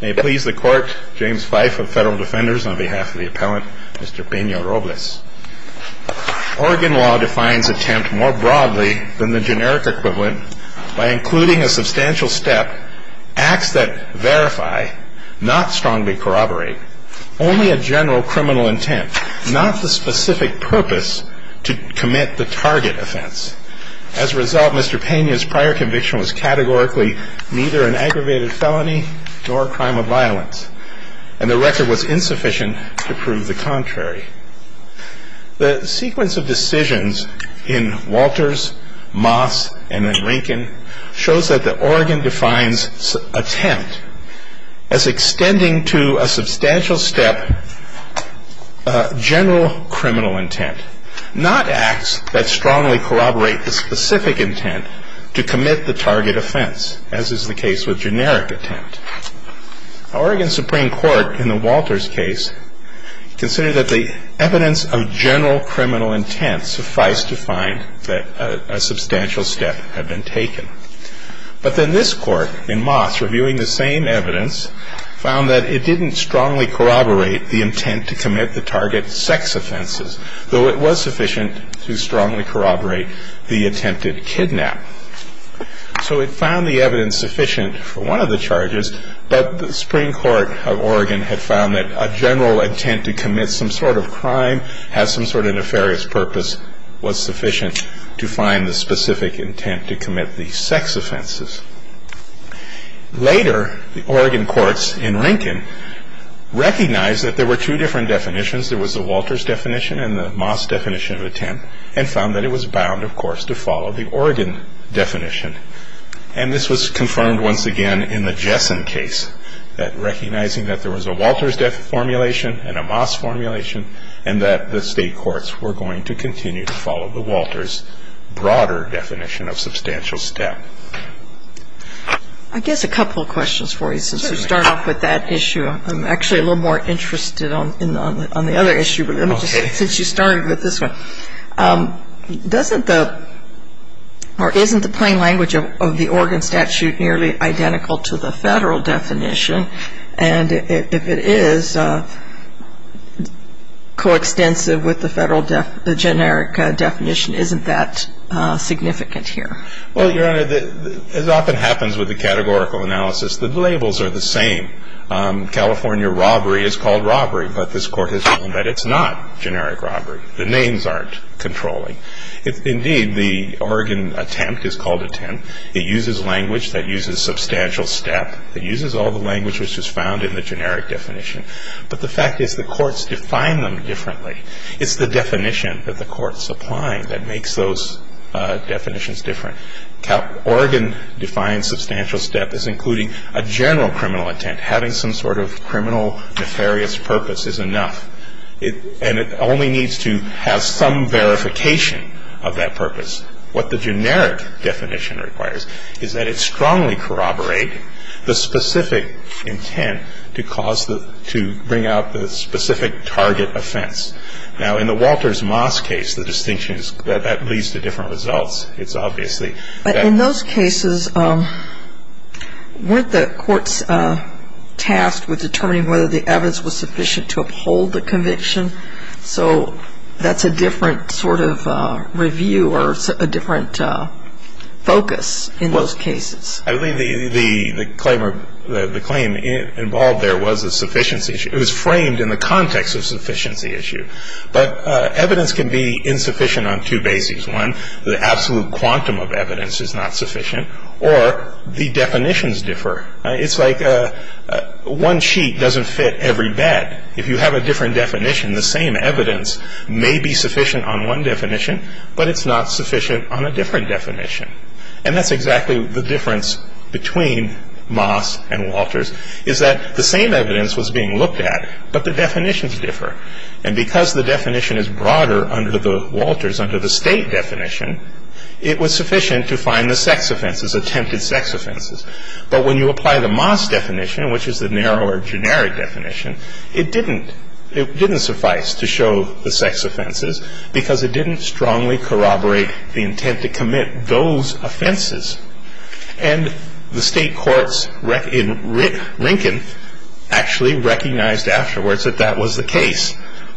May it please the Court, James Fife of Federal Defenders, on behalf of the Appellant, Mr. Pena-Robles. Oregon law defines attempt more broadly than the generic equivalent by including a substantial step, acts that verify, not strongly corroborate, only a general criminal intent, not the specific purpose to commit the target offense. As a result, Mr. Pena's prior conviction was categorically neither an aggravated felony nor a crime of violence, and the record was insufficient to prove the contrary. The sequence of decisions in Walters, Moss, and then Rinkin shows that the Oregon defines attempt as extending to a substantial step and a general criminal intent, not acts that strongly corroborate the specific intent to commit the target offense, as is the case with generic attempt. Oregon Supreme Court, in the Walters case, considered that the evidence of general criminal intent sufficed to find that a substantial step had been taken. But then this Court, in Moss, reviewing the same evidence, found that it didn't strongly corroborate the intent to commit the target sex offenses, though it was sufficient to strongly corroborate the attempted kidnap. So it found the evidence sufficient for one of the charges, but the Supreme Court of Oregon had found that a general intent to commit some sort of crime, had some sort of nefarious purpose, was sufficient to find the specific intent to commit the sex offenses. Later, the Oregon courts in Rinkin recognized that there were two different definitions. There was the Walters definition and the Moss definition of attempt, and found that it was bound, of course, to follow the Oregon definition. And this was confirmed once again in the Jessen case, that recognizing that there was a Walters formulation and a Moss formulation and that the State courts were going to continue to follow the Walters broader definition of substantial step. I guess a couple of questions for you, since you started off with that issue. I'm actually a little more interested on the other issue, but let me just, since you started with this one. Doesn't the, or isn't the plain language of the Oregon statute nearly identical to the Federal definition? And if it is, coextensive with the Federal generic definition, isn't that significant here? Well, Your Honor, as often happens with the categorical analysis, the labels are the same. California robbery is called robbery, but this Court has found that it's not generic robbery. The names aren't controlling. Indeed, the Oregon attempt is called attempt. It uses language that uses substantial step. It uses all the language which was found in the generic definition. But the fact is the courts define them differently. It's the definition that the courts apply that makes those definitions different. Oregon defines substantial step as including a general criminal intent. Having some sort of criminal nefarious purpose is enough. And it only needs to have some verification of that purpose. Now, in the Walters-Moss case, the distinction is that that leads to different results. It's obviously that. But in those cases, weren't the courts tasked with determining whether the evidence was sufficient to uphold the conviction? So that's a different sort of review or set of criteria. And I'm not sure that there's a different focus in those cases. I believe the claim involved there was a sufficiency issue. It was framed in the context of a sufficiency issue. But evidence can be insufficient on two bases. One, the absolute quantum of evidence is not sufficient. Or the definitions differ. It's like one sheet doesn't fit every bed. If you have a different definition, the same evidence may be sufficient on one definition, but it's not sufficient on a different definition. And that's exactly the difference between Moss and Walters, is that the same evidence was being looked at, but the definitions differ. And because the definition is broader under the Walters, under the State definition, it was sufficient to find the sex offenses, attempted sex offenses. But when you apply the Moss definition, which is the narrower generic definition, it didn't suffice to show the sex offenses because it didn't strongly corroborate the intent to commit those offenses. And the State courts in Rinkin actually recognized afterwards that that was the case,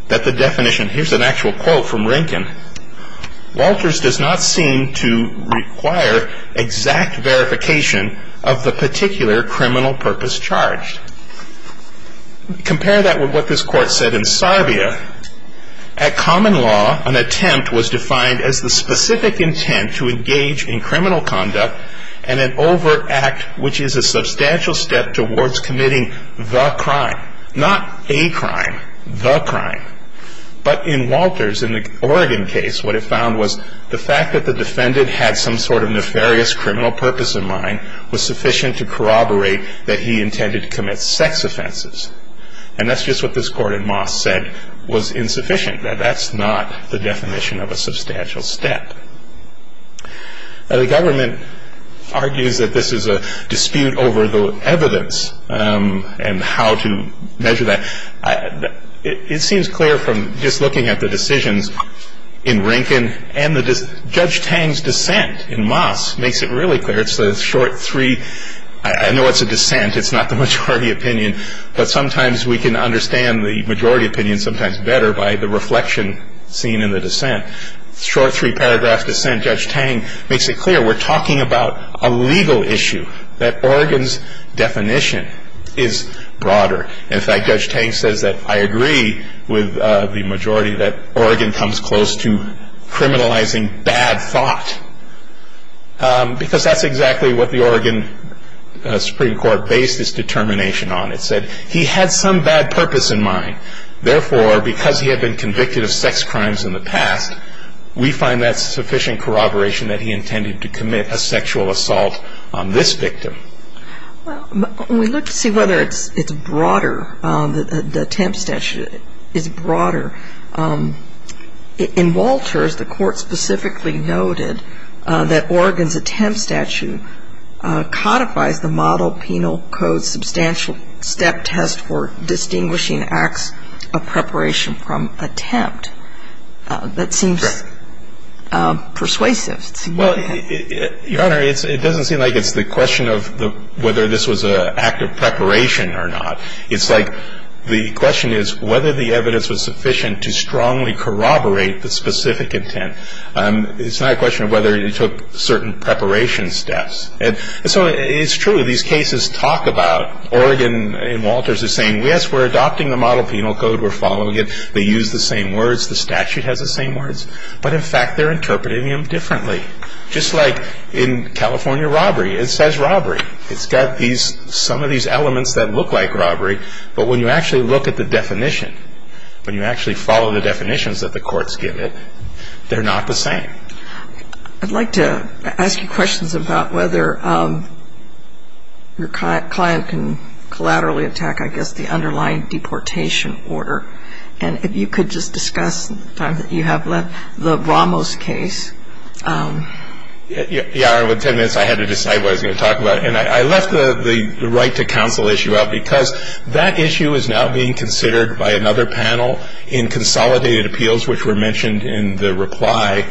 that the definition, here's an actual quote from Rinkin, Walters does not seem to require exact verification of the particular criminal purpose charged. Compare that with what this court said in Sarbia. At common law, an attempt was defined as the specific intent to engage in criminal conduct and an overt act which is a substantial step towards committing the crime. Not a crime, the crime. But in Walters, in the Oregon case, what it found was the fact that the defendant had some sort of nefarious criminal purpose in mind was sufficient to corroborate that he intended to commit sex offenses. And that's just what this court in Moss said was insufficient, that that's not the definition of a substantial step. The government argues that this is a dispute over the evidence and how to measure that. It seems clear from just looking at the decisions in Rinkin and Judge Tang's dissent in Moss makes it really clear. It's the short three, I know it's a dissent, it's not the majority opinion, but sometimes we can understand the majority opinion sometimes better by the reflection seen in the dissent. Short three paragraph dissent, Judge Tang makes it clear we're talking about a legal issue, that Oregon's definition is broader. In fact, Judge Tang says that I agree with the majority that Oregon comes close to criminalizing bad thought. Because that's exactly what the Oregon Supreme Court based its determination on. It said he had some bad purpose in mind. Therefore, because he had been convicted of sex crimes in the past, we find that sufficient corroboration that he intended to commit a sexual assault on this victim. Well, when we look to see whether it's broader, the attempt statute is broader. In Walters, the Court specifically noted that Oregon's attempt statute codifies the model penal code substantial step test for distinguishing acts of preparation from attempt. That seems persuasive. Well, Your Honor, it doesn't seem like it's the question of whether this was an act of preparation or not. It's like the question is whether the evidence was sufficient to strongly corroborate the specific intent. It's not a question of whether you took certain preparation steps. And so it's true, these cases talk about Oregon and Walters are saying, yes, we're adopting the model penal code, we're following it, they use the same words, the statute has the same words. But in fact, they're interpreting them differently. Just like in California robbery, it says robbery. It's got some of these elements that look like robbery, but when you actually look at the definition, when you actually follow the definitions that the courts give it, they're not the same. I'd like to ask you questions about whether your client can collaterally attack, I guess, the underlying deportation order. And if you could just discuss the time that you have left the Ramos case. Your Honor, with ten minutes I had to decide what I was going to talk about. And I left the right to counsel issue out because that issue is now being considered by another panel in consolidated appeals, which were mentioned in the reply.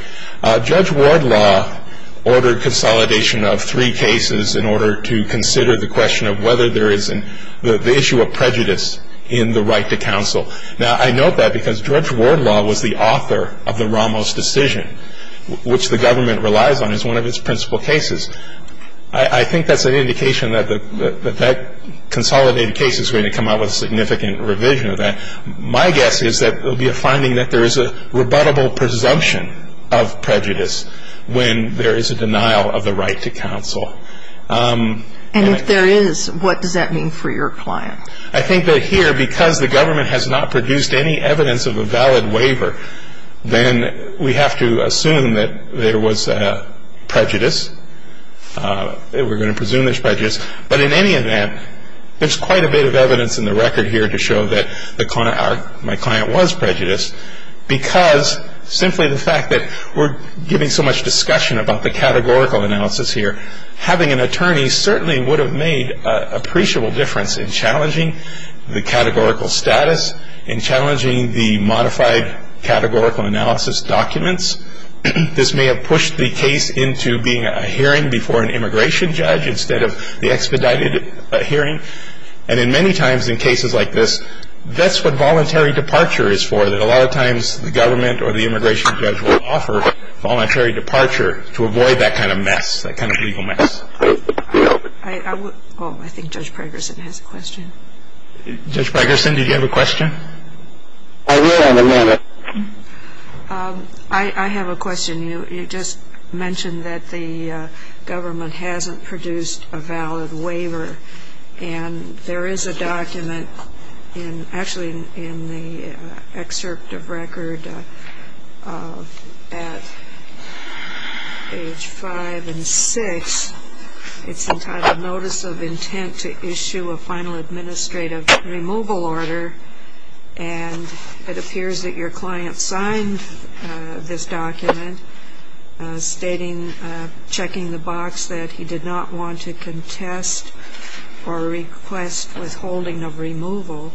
Judge Wardlaw ordered consolidation of three cases in order to consider the question of whether there is an issue of prejudice in the right to counsel. Now, I note that because Judge Wardlaw was the author of the Ramos decision, which the government relies on as one of its principal cases. I think that's an indication that that consolidated case is going to come out with a significant revision of that. My guess is that there will be a finding that there is a rebuttable presumption of prejudice when there is a denial of the right to counsel. And if there is, what does that mean for your client? I think that here, because the government has not produced any evidence of a valid waiver, then we have to assume that there was prejudice. We're going to presume there's prejudice. But in any event, there's quite a bit of evidence in the record here to show that my client was prejudiced because simply the fact that we're giving so much discussion about the categorical analysis here, having an attorney certainly would have made an appreciable difference in challenging the categorical status, in challenging the modified categorical analysis documents. This may have pushed the case into being a hearing before an immigration judge instead of the expedited hearing. And many times in cases like this, that's what voluntary departure is for, that a lot of times the government or the immigration judge will offer voluntary departure to avoid that kind of mess, that kind of legal mess. Oh, I think Judge Pregerson has a question. Judge Pregerson, did you have a question? I will in a minute. I have a question. You just mentioned that the government hasn't produced a valid waiver. And there is a document, actually in the excerpt of record at age five and six, it's entitled Notice of Intent to Issue a Final Administrative Removal Order. And it appears that your client signed this document stating, checking the box, that he did not want to contest or request withholding of removal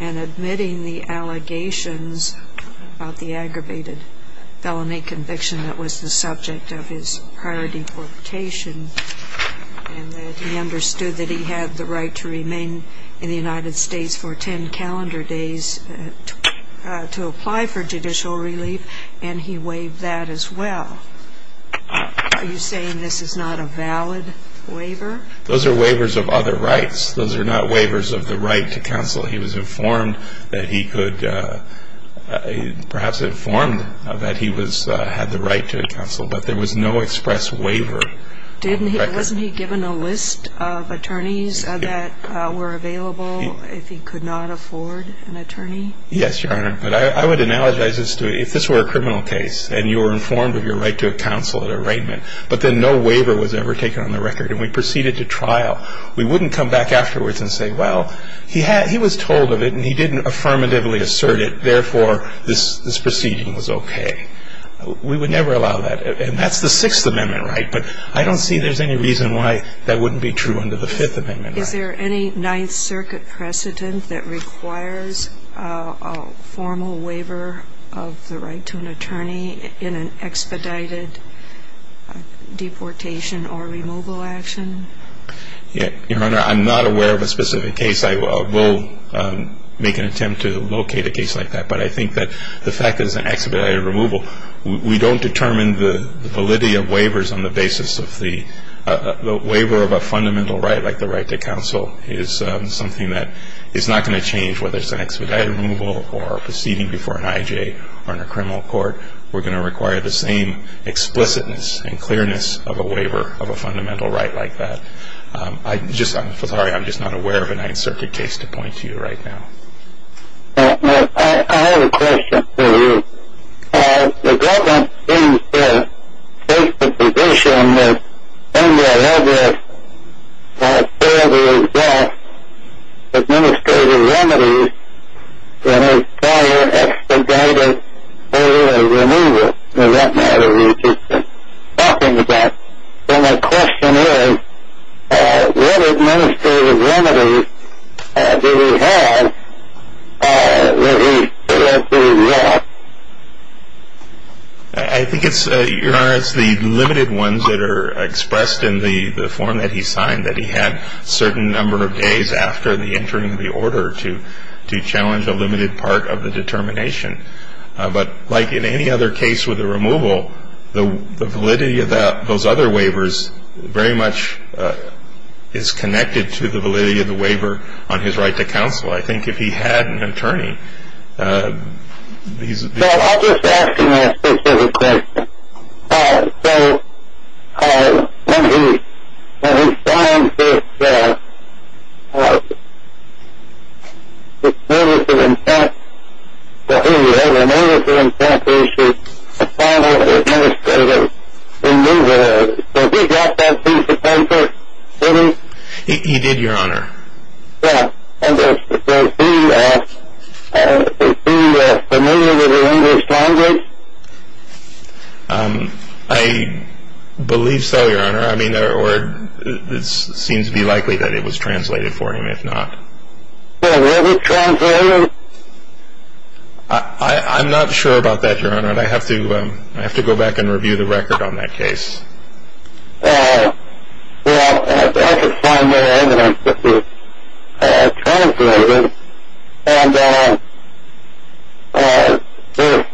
and admitting the allegations of the aggravated felony conviction that was the subject of his prior deportation, and that he understood that he had the right to remain in the United States for ten calendar days to apply for judicial relief, and he waived that as well. Are you saying this is not a valid waiver? Those are waivers of other rights. Those are not waivers of the right to counsel. He was informed that he could, perhaps informed that he had the right to counsel, but there was no express waiver. Wasn't he given a list of attorneys that were available if he could not afford an attorney? Yes, Your Honor. But I would analogize this to, if this were a criminal case and you were informed of your right to counsel at arraignment, but then no waiver was ever taken on the record and we proceeded to trial, we wouldn't come back afterwards and say, well, he was told of it and he didn't affirmatively assert it, therefore this proceeding was okay. We would never allow that. And that's the Sixth Amendment right. But I don't see there's any reason why that wouldn't be true under the Fifth Amendment right. Is there any Ninth Circuit precedent that requires a formal waiver of the right to an attorney in an expedited deportation or removal action? Your Honor, I'm not aware of a specific case. I will make an attempt to locate a case like that. But I think that the fact that it's an expedited removal, we don't determine the validity of waivers on the basis of the waiver of a fundamental right like the right to counsel is something that is not going to change whether it's an expedited removal or a proceeding before an IJ or in a criminal court. We're going to require the same explicitness and clearness of a waiver of a fundamental right like that. I'm sorry, I'm just not aware of a Ninth Circuit case to point to right now. I have a question for you. The government seems to take the position that when you're ever told you've got administrative remedies in a prior expedited order of removal, for that matter, which we've been talking about, then the question is, what administrative remedies do we have that we suggest we want? I think it's, Your Honor, it's the limited ones that are expressed in the form that he signed, that he had a certain number of days after the entering of the order to challenge a limited part of the determination. But like in any other case with a removal, the validity of those other waivers very much is connected to the validity of the waiver on his right to counsel. I think if he had an attorney, these would be. Well, I'll just ask him that specific question. So when he signed this notice of intent, that he had a notice of intent to issue a final administrative removal order, did he drop that piece of paper? Did he? He did, Your Honor. Yeah. And was he familiar with the English language? I believe so, Your Honor. I mean, or it seems to be likely that it was translated for him, if not. Was it translated? I'm not sure about that, Your Honor, and I have to go back and review the record on that case. Well, I could find no evidence that it was translated, and if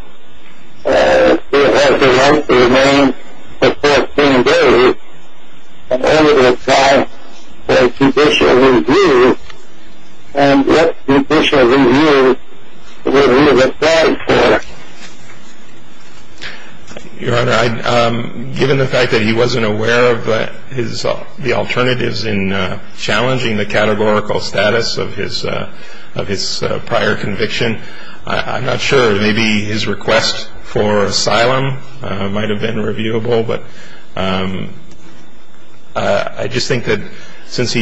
it has the right to remain for 14 days and only to apply for judicial review, then what judicial review would he have applied for? Your Honor, given the fact that he wasn't aware of the alternatives in challenging the categorical status of his prior conviction, I'm not sure. Maybe his request for asylum might have been reviewable, but I just think that since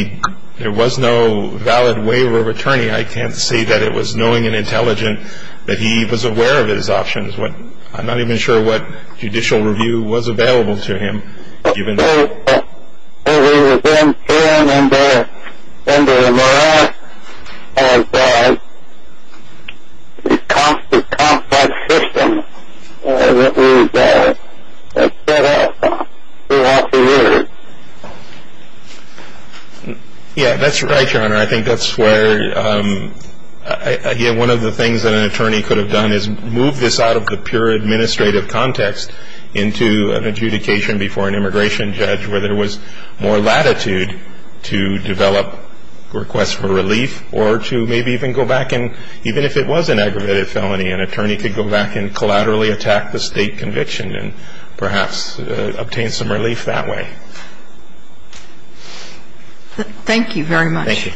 there was no valid waiver of attorney, I can't say that it was knowing and intelligent that he was aware of his options. I'm not even sure what judicial review was available to him. Well, we were then thrown under the morass of the cost-to-cost system that we had set up throughout the years. Yeah, that's right, Your Honor. I think that's where one of the things that an attorney could have done is move this out of the pure administrative context into an adjudication before an immigration judge where there was more latitude to develop requests for relief or to maybe even go back and, even if it was an aggravated felony, an attorney could go back and collaterally attack the state conviction and perhaps obtain some relief that way. Thank you very much. Thank you.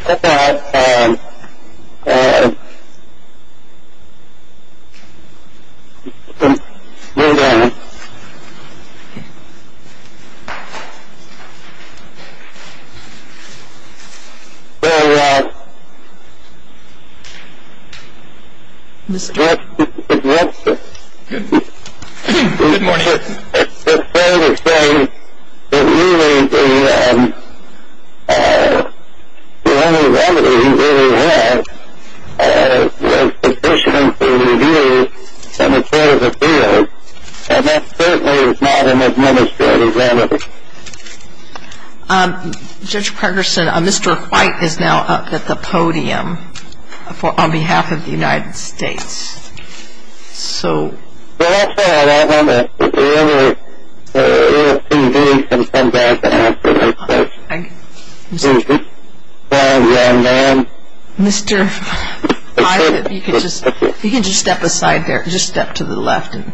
I think the only remedy he really had was sufficient to review the materials of appeals, and that certainly is not an administrative remedy. Judge Pregerson, Mr. White is now up at the podium on behalf of the United States. So, Mr. White, if you could just step aside there, just step to the left and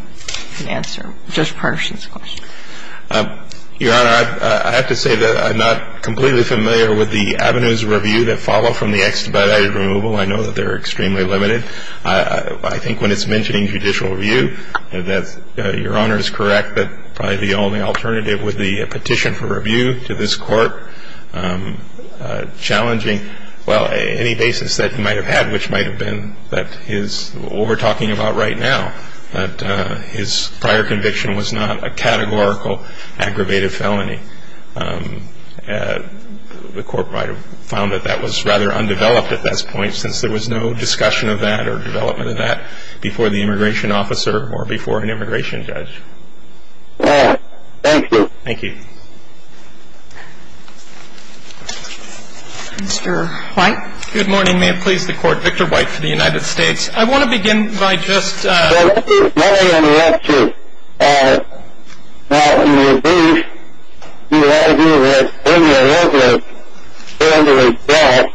answer Judge Pregerson's question. Your Honor, I have to say that I'm not completely familiar with the avenues of review that follow from the extradited removal. I know that they're extremely limited. I think when it's mentioning judicial review, your Honor is correct that probably the only alternative would be a petition for review to this Court challenging, well, any basis that he might have had, which might have been what we're talking about right now, that his prior conviction was not a categorical aggravated felony. The Court might have found that that was rather undeveloped at this point since there was no discussion of that or development of that before the immigration officer or before an immigration judge. All right. Thank you. Thank you. Mr. White. Good morning. May it please the Court, Victor White for the United States. I want to begin by just – If my interruption is not in the abuse, do you argue that when your witness failed to address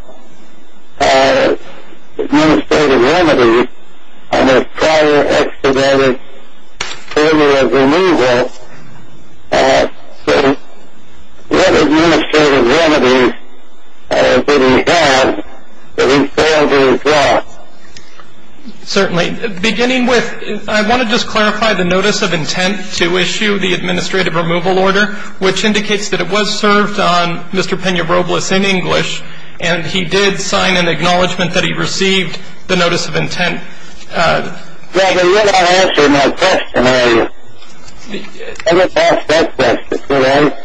administrative remedies on the prior extradited formula removal, what administrative remedies did he have that he failed to address? Certainly. Beginning with, I want to just clarify the notice of intent to issue the administrative removal order, which indicates that it was served on Mr. Pena-Robles in English, and he did sign an acknowledgment that he received the notice of intent. Well, you're not answering my question, are you? I would ask that question, correct?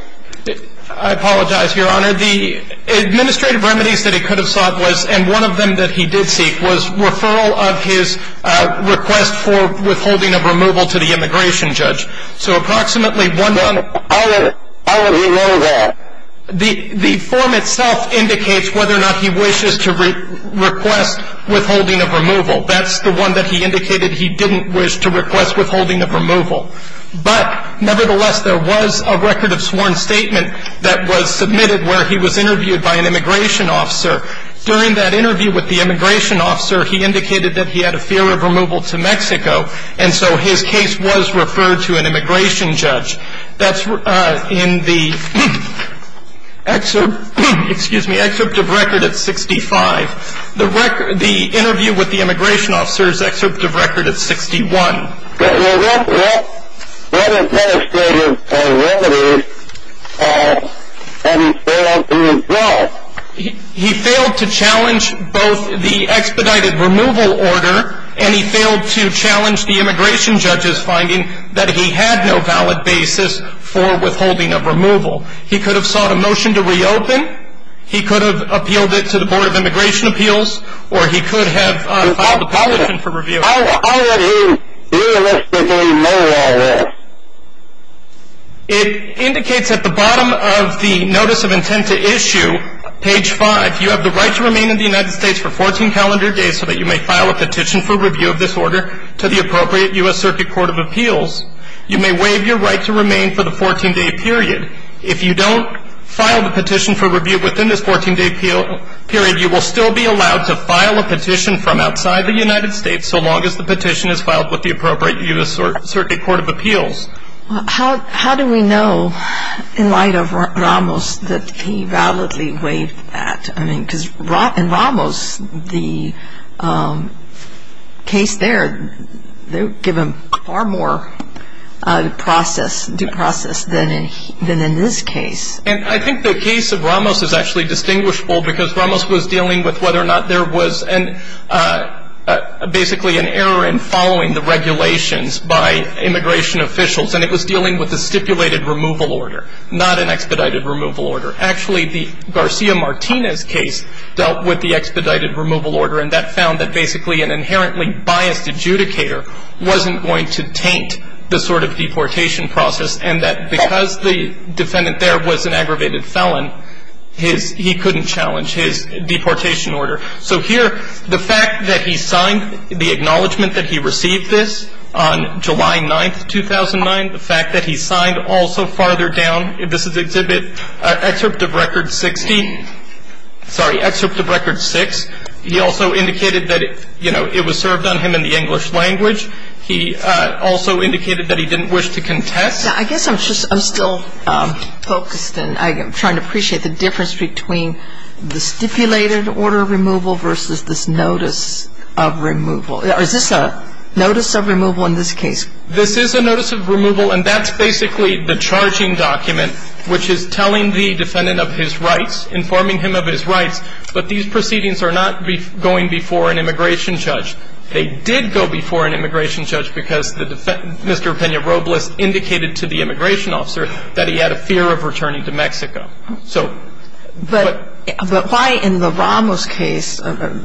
I apologize, Your Honor. The administrative remedies that he could have sought was, and one of them that he did seek, was referral of his request for withholding of removal to the immigration judge. So approximately one – How would he know that? The form itself indicates whether or not he wishes to request withholding of removal. That's the one that he indicated he didn't wish to request withholding of removal. But nevertheless, there was a record of sworn statement that was submitted where he was interviewed by an immigration officer. During that interview with the immigration officer, he indicated that he had a fear of removal to Mexico, and so his case was referred to an immigration judge. That's in the excerpt of record at 65. The interview with the immigration officer is excerpt of record at 61. Well, what administrative remedies had he failed to resolve? He failed to challenge both the expedited removal order and he failed to challenge the immigration judge's finding that he had no valid basis for withholding of removal. He could have sought a motion to reopen, he could have appealed it to the Board of Immigration Appeals, or he could have filed a petition for review. How would he realistically know all this? It indicates at the bottom of the Notice of Intent to Issue, page 5, you have the right to remain in the United States for 14 calendar days so that you may file a petition for review of this order to the appropriate U.S. Circuit Court of Appeals. You may waive your right to remain for the 14-day period. If you don't file the petition for review within this 14-day period, you will still be allowed to file a petition from outside the United States so long as the petition is filed with the appropriate U.S. Circuit Court of Appeals. How do we know, in light of Ramos, that he validly waived that? I mean, because in Ramos, the case there, they give him far more due process than in his case. And I think the case of Ramos is actually distinguishable because Ramos was dealing with whether or not there was basically an error in following the regulations by immigration officials, and it was dealing with a stipulated removal order, not an expedited removal order. Actually, the Garcia-Martinez case dealt with the expedited removal order, and that found that basically an inherently biased adjudicator wasn't going to taint the sort of deportation process, and that because the defendant there was an aggravated felon, he couldn't challenge his deportation order. So here, the fact that he signed the acknowledgment that he received this on July 9, 2009, the fact that he signed also farther down, this is Exhibit Excerpt of Record 60, sorry, Excerpt of Record 6, he also indicated that, you know, it was served on him in the English language. He also indicated that he didn't wish to contest. Sotomayor, I guess I'm still focused and I'm trying to appreciate the difference between the stipulated order of removal versus this notice of removal. Is this a notice of removal in this case? This is a notice of removal, and that's basically the charging document, which is telling the defendant of his rights, informing him of his rights, but these proceedings are not going before an immigration judge. They did go before an immigration judge because Mr. Peña Robles indicated to the immigration officer that he had a fear of returning to Mexico. But why in the Ramos case, there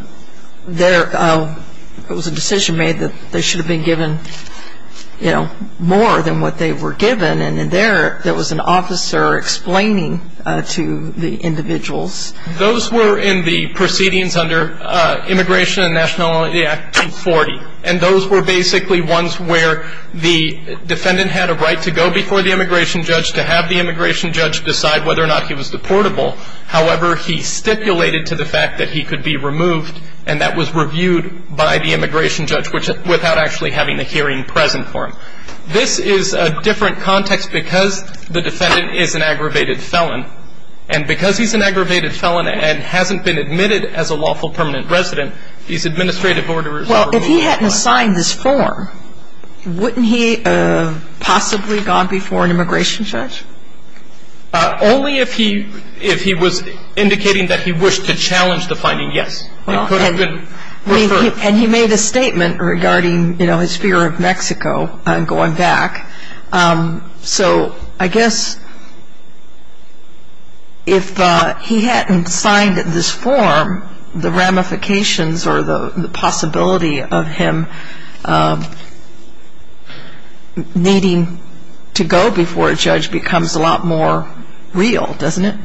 was a decision made that they should have been given, you know, more than what they were given, and there was an officer explaining to the individuals. Those were in the proceedings under Immigration and Nationality Act 240, and those were basically ones where the defendant had a right to go before the immigration judge to have the immigration judge decide whether or not he was deportable. However, he stipulated to the fact that he could be removed, and that was reviewed by the immigration judge without actually having the hearing present for him. This is a different context because the defendant is an aggravated felon, and because he's an aggravated felon and hasn't been admitted as a lawful permanent resident, these administrative orders are required. Well, if he hadn't signed this form, wouldn't he have possibly gone before an immigration judge? Only if he was indicating that he wished to challenge the finding, yes. Well, and he made a statement regarding, you know, his fear of Mexico and going back. So I guess if he hadn't signed this form, the ramifications or the possibility of him needing to go before a judge becomes a lot more real, doesn't it?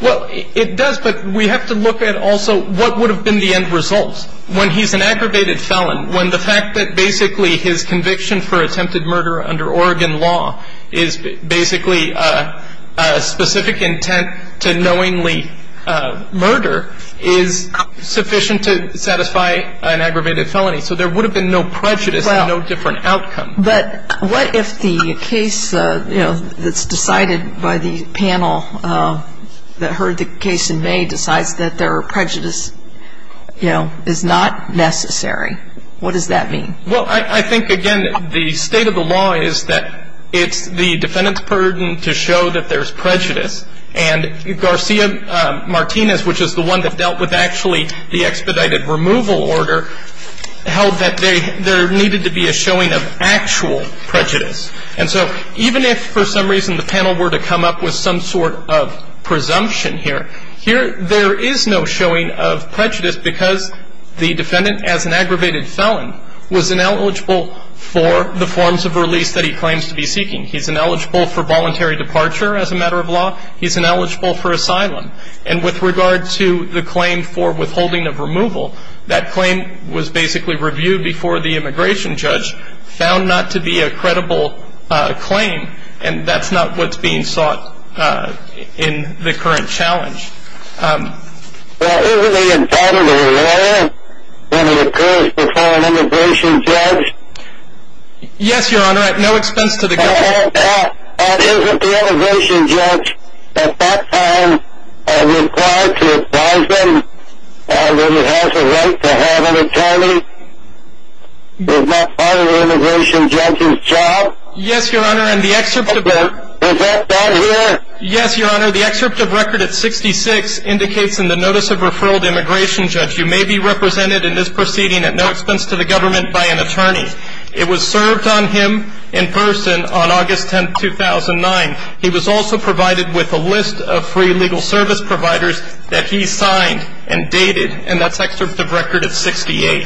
Well, it does, but we have to look at also what would have been the end result. When he's an aggravated felon, when the fact that basically his conviction for attempted murder under Oregon law is basically a specific intent to knowingly murder is sufficient to satisfy an aggravated felony. So there would have been no prejudice and no different outcome. But what if the case, you know, that's decided by the panel that heard the case in May, decides that there are prejudice, you know, is not necessary? What does that mean? Well, I think, again, the state of the law is that it's the defendant's burden to show that there's prejudice. And Garcia-Martinez, which is the one that dealt with actually the expedited removal order, held that there needed to be a showing of actual prejudice. And so even if for some reason the panel were to come up with some sort of presumption here, there is no showing of prejudice because the defendant, as an aggravated felon, was ineligible for the forms of release that he claims to be seeking. He's ineligible for voluntary departure as a matter of law. He's ineligible for asylum. And with regard to the claim for withholding of removal, that claim was basically reviewed before the immigration judge, found not to be a credible claim, and that's not what's being sought in the current challenge. Well, isn't he entitled to a lawyer when he occurs before an immigration judge? Yes, Your Honor, at no expense to the government. Isn't the immigration judge at that time required to advise them that he has a right to have an attorney? Is that part of the immigration judge's job? Yes, Your Honor, and the excerpt of record at 66 indicates in the notice of referral to immigration judge you may be represented in this proceeding at no expense to the government by an attorney. It was served on him in person on August 10, 2009. He was also provided with a list of free legal service providers that he signed and dated, and that's excerpt of record at 68.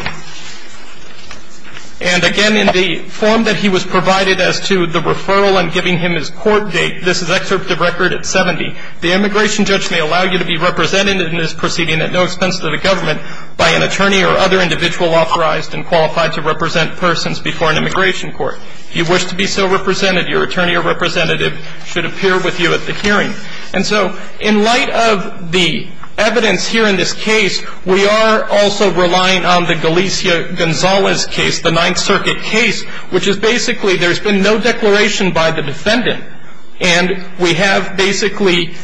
And again, in the form that he was provided as to the referral and giving him his court date, this is excerpt of record at 70. The immigration judge may allow you to be represented in this proceeding at no expense to the government by an attorney or other individual authorized and qualified to represent persons before an immigration court. If you wish to be so represented, your attorney or representative should appear with you at the hearing. And so in light of the evidence here in this case, we are also relying on the Galicia-Gonzalez case, the Ninth Circuit case, which is basically there's been no declaration by the defendant, and we have basically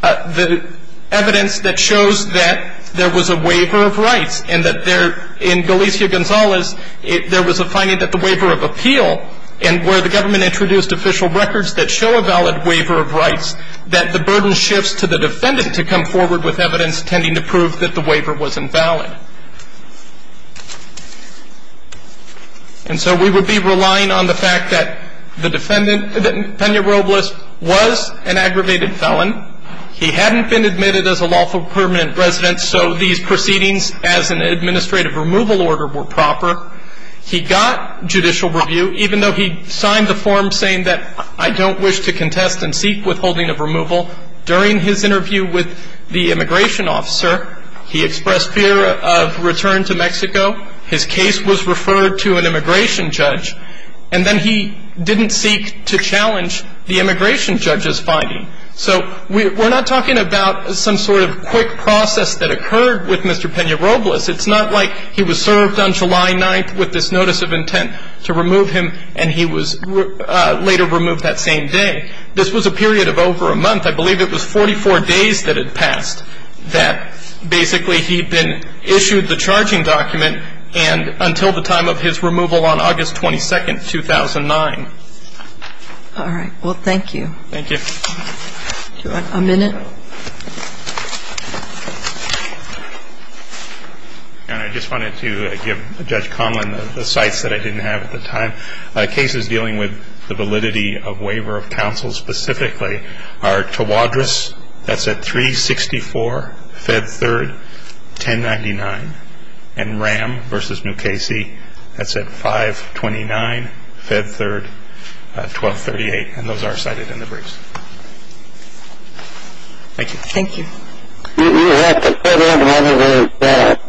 the evidence that shows that there was a waiver of rights and that in Galicia-Gonzalez there was a finding that the waiver of appeal and where the government introduced official records that show a valid waiver of rights, that the burden shifts to the defendant to come forward with evidence tending to prove that the waiver was invalid. And so we would be relying on the fact that the defendant, that Peña Robles, was an aggravated felon. He hadn't been admitted as a lawful permanent resident, so these proceedings as an administrative removal order were proper. He got judicial review, even though he signed the form saying that, I don't wish to contest and seek withholding of removal. During his interview with the immigration officer, he expressed fear of return to Mexico. His case was referred to an immigration judge, and then he didn't seek to challenge the immigration judge's finding. So we're not talking about some sort of quick process that occurred with Mr. Peña Robles. It's not like he was served on July 9th with this notice of intent to remove him, and he was later removed that same day. This was a period of over a month. I believe it was 44 days that had passed that basically he'd been issued the charging document and until the time of his removal on August 22nd, 2009. All right. Well, thank you. Thank you. Do you want a minute? And I just wanted to give Judge Conlin the cites that I didn't have at the time. Cases dealing with the validity of waiver of counsel specifically are Tawadros. That's at 364, Fed 3rd, 1099. And Ram v. New Casey, that's at 529, Fed 3rd, 1238. And those are cited in the briefs. Thank you. Thank you. You have to fill out one of those briefs.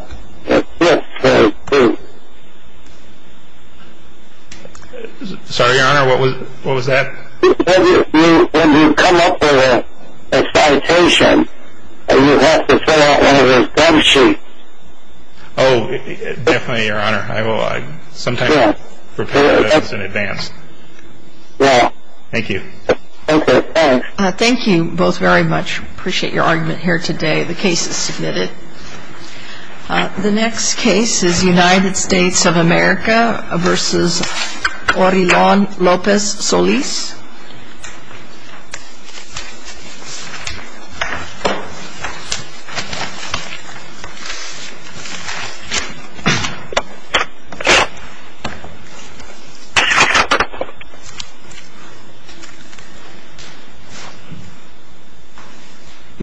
Sorry, Your Honor, what was that? When you come up with a citation, you have to fill out one of those briefs. Oh, definitely, Your Honor. I will sometime prepare those in advance. Yeah. Thank you. Okay. Thanks. Thank you both very much. Appreciate your argument here today. The case is submitted. The next case is United States of America v. Orillon Lopez Solis.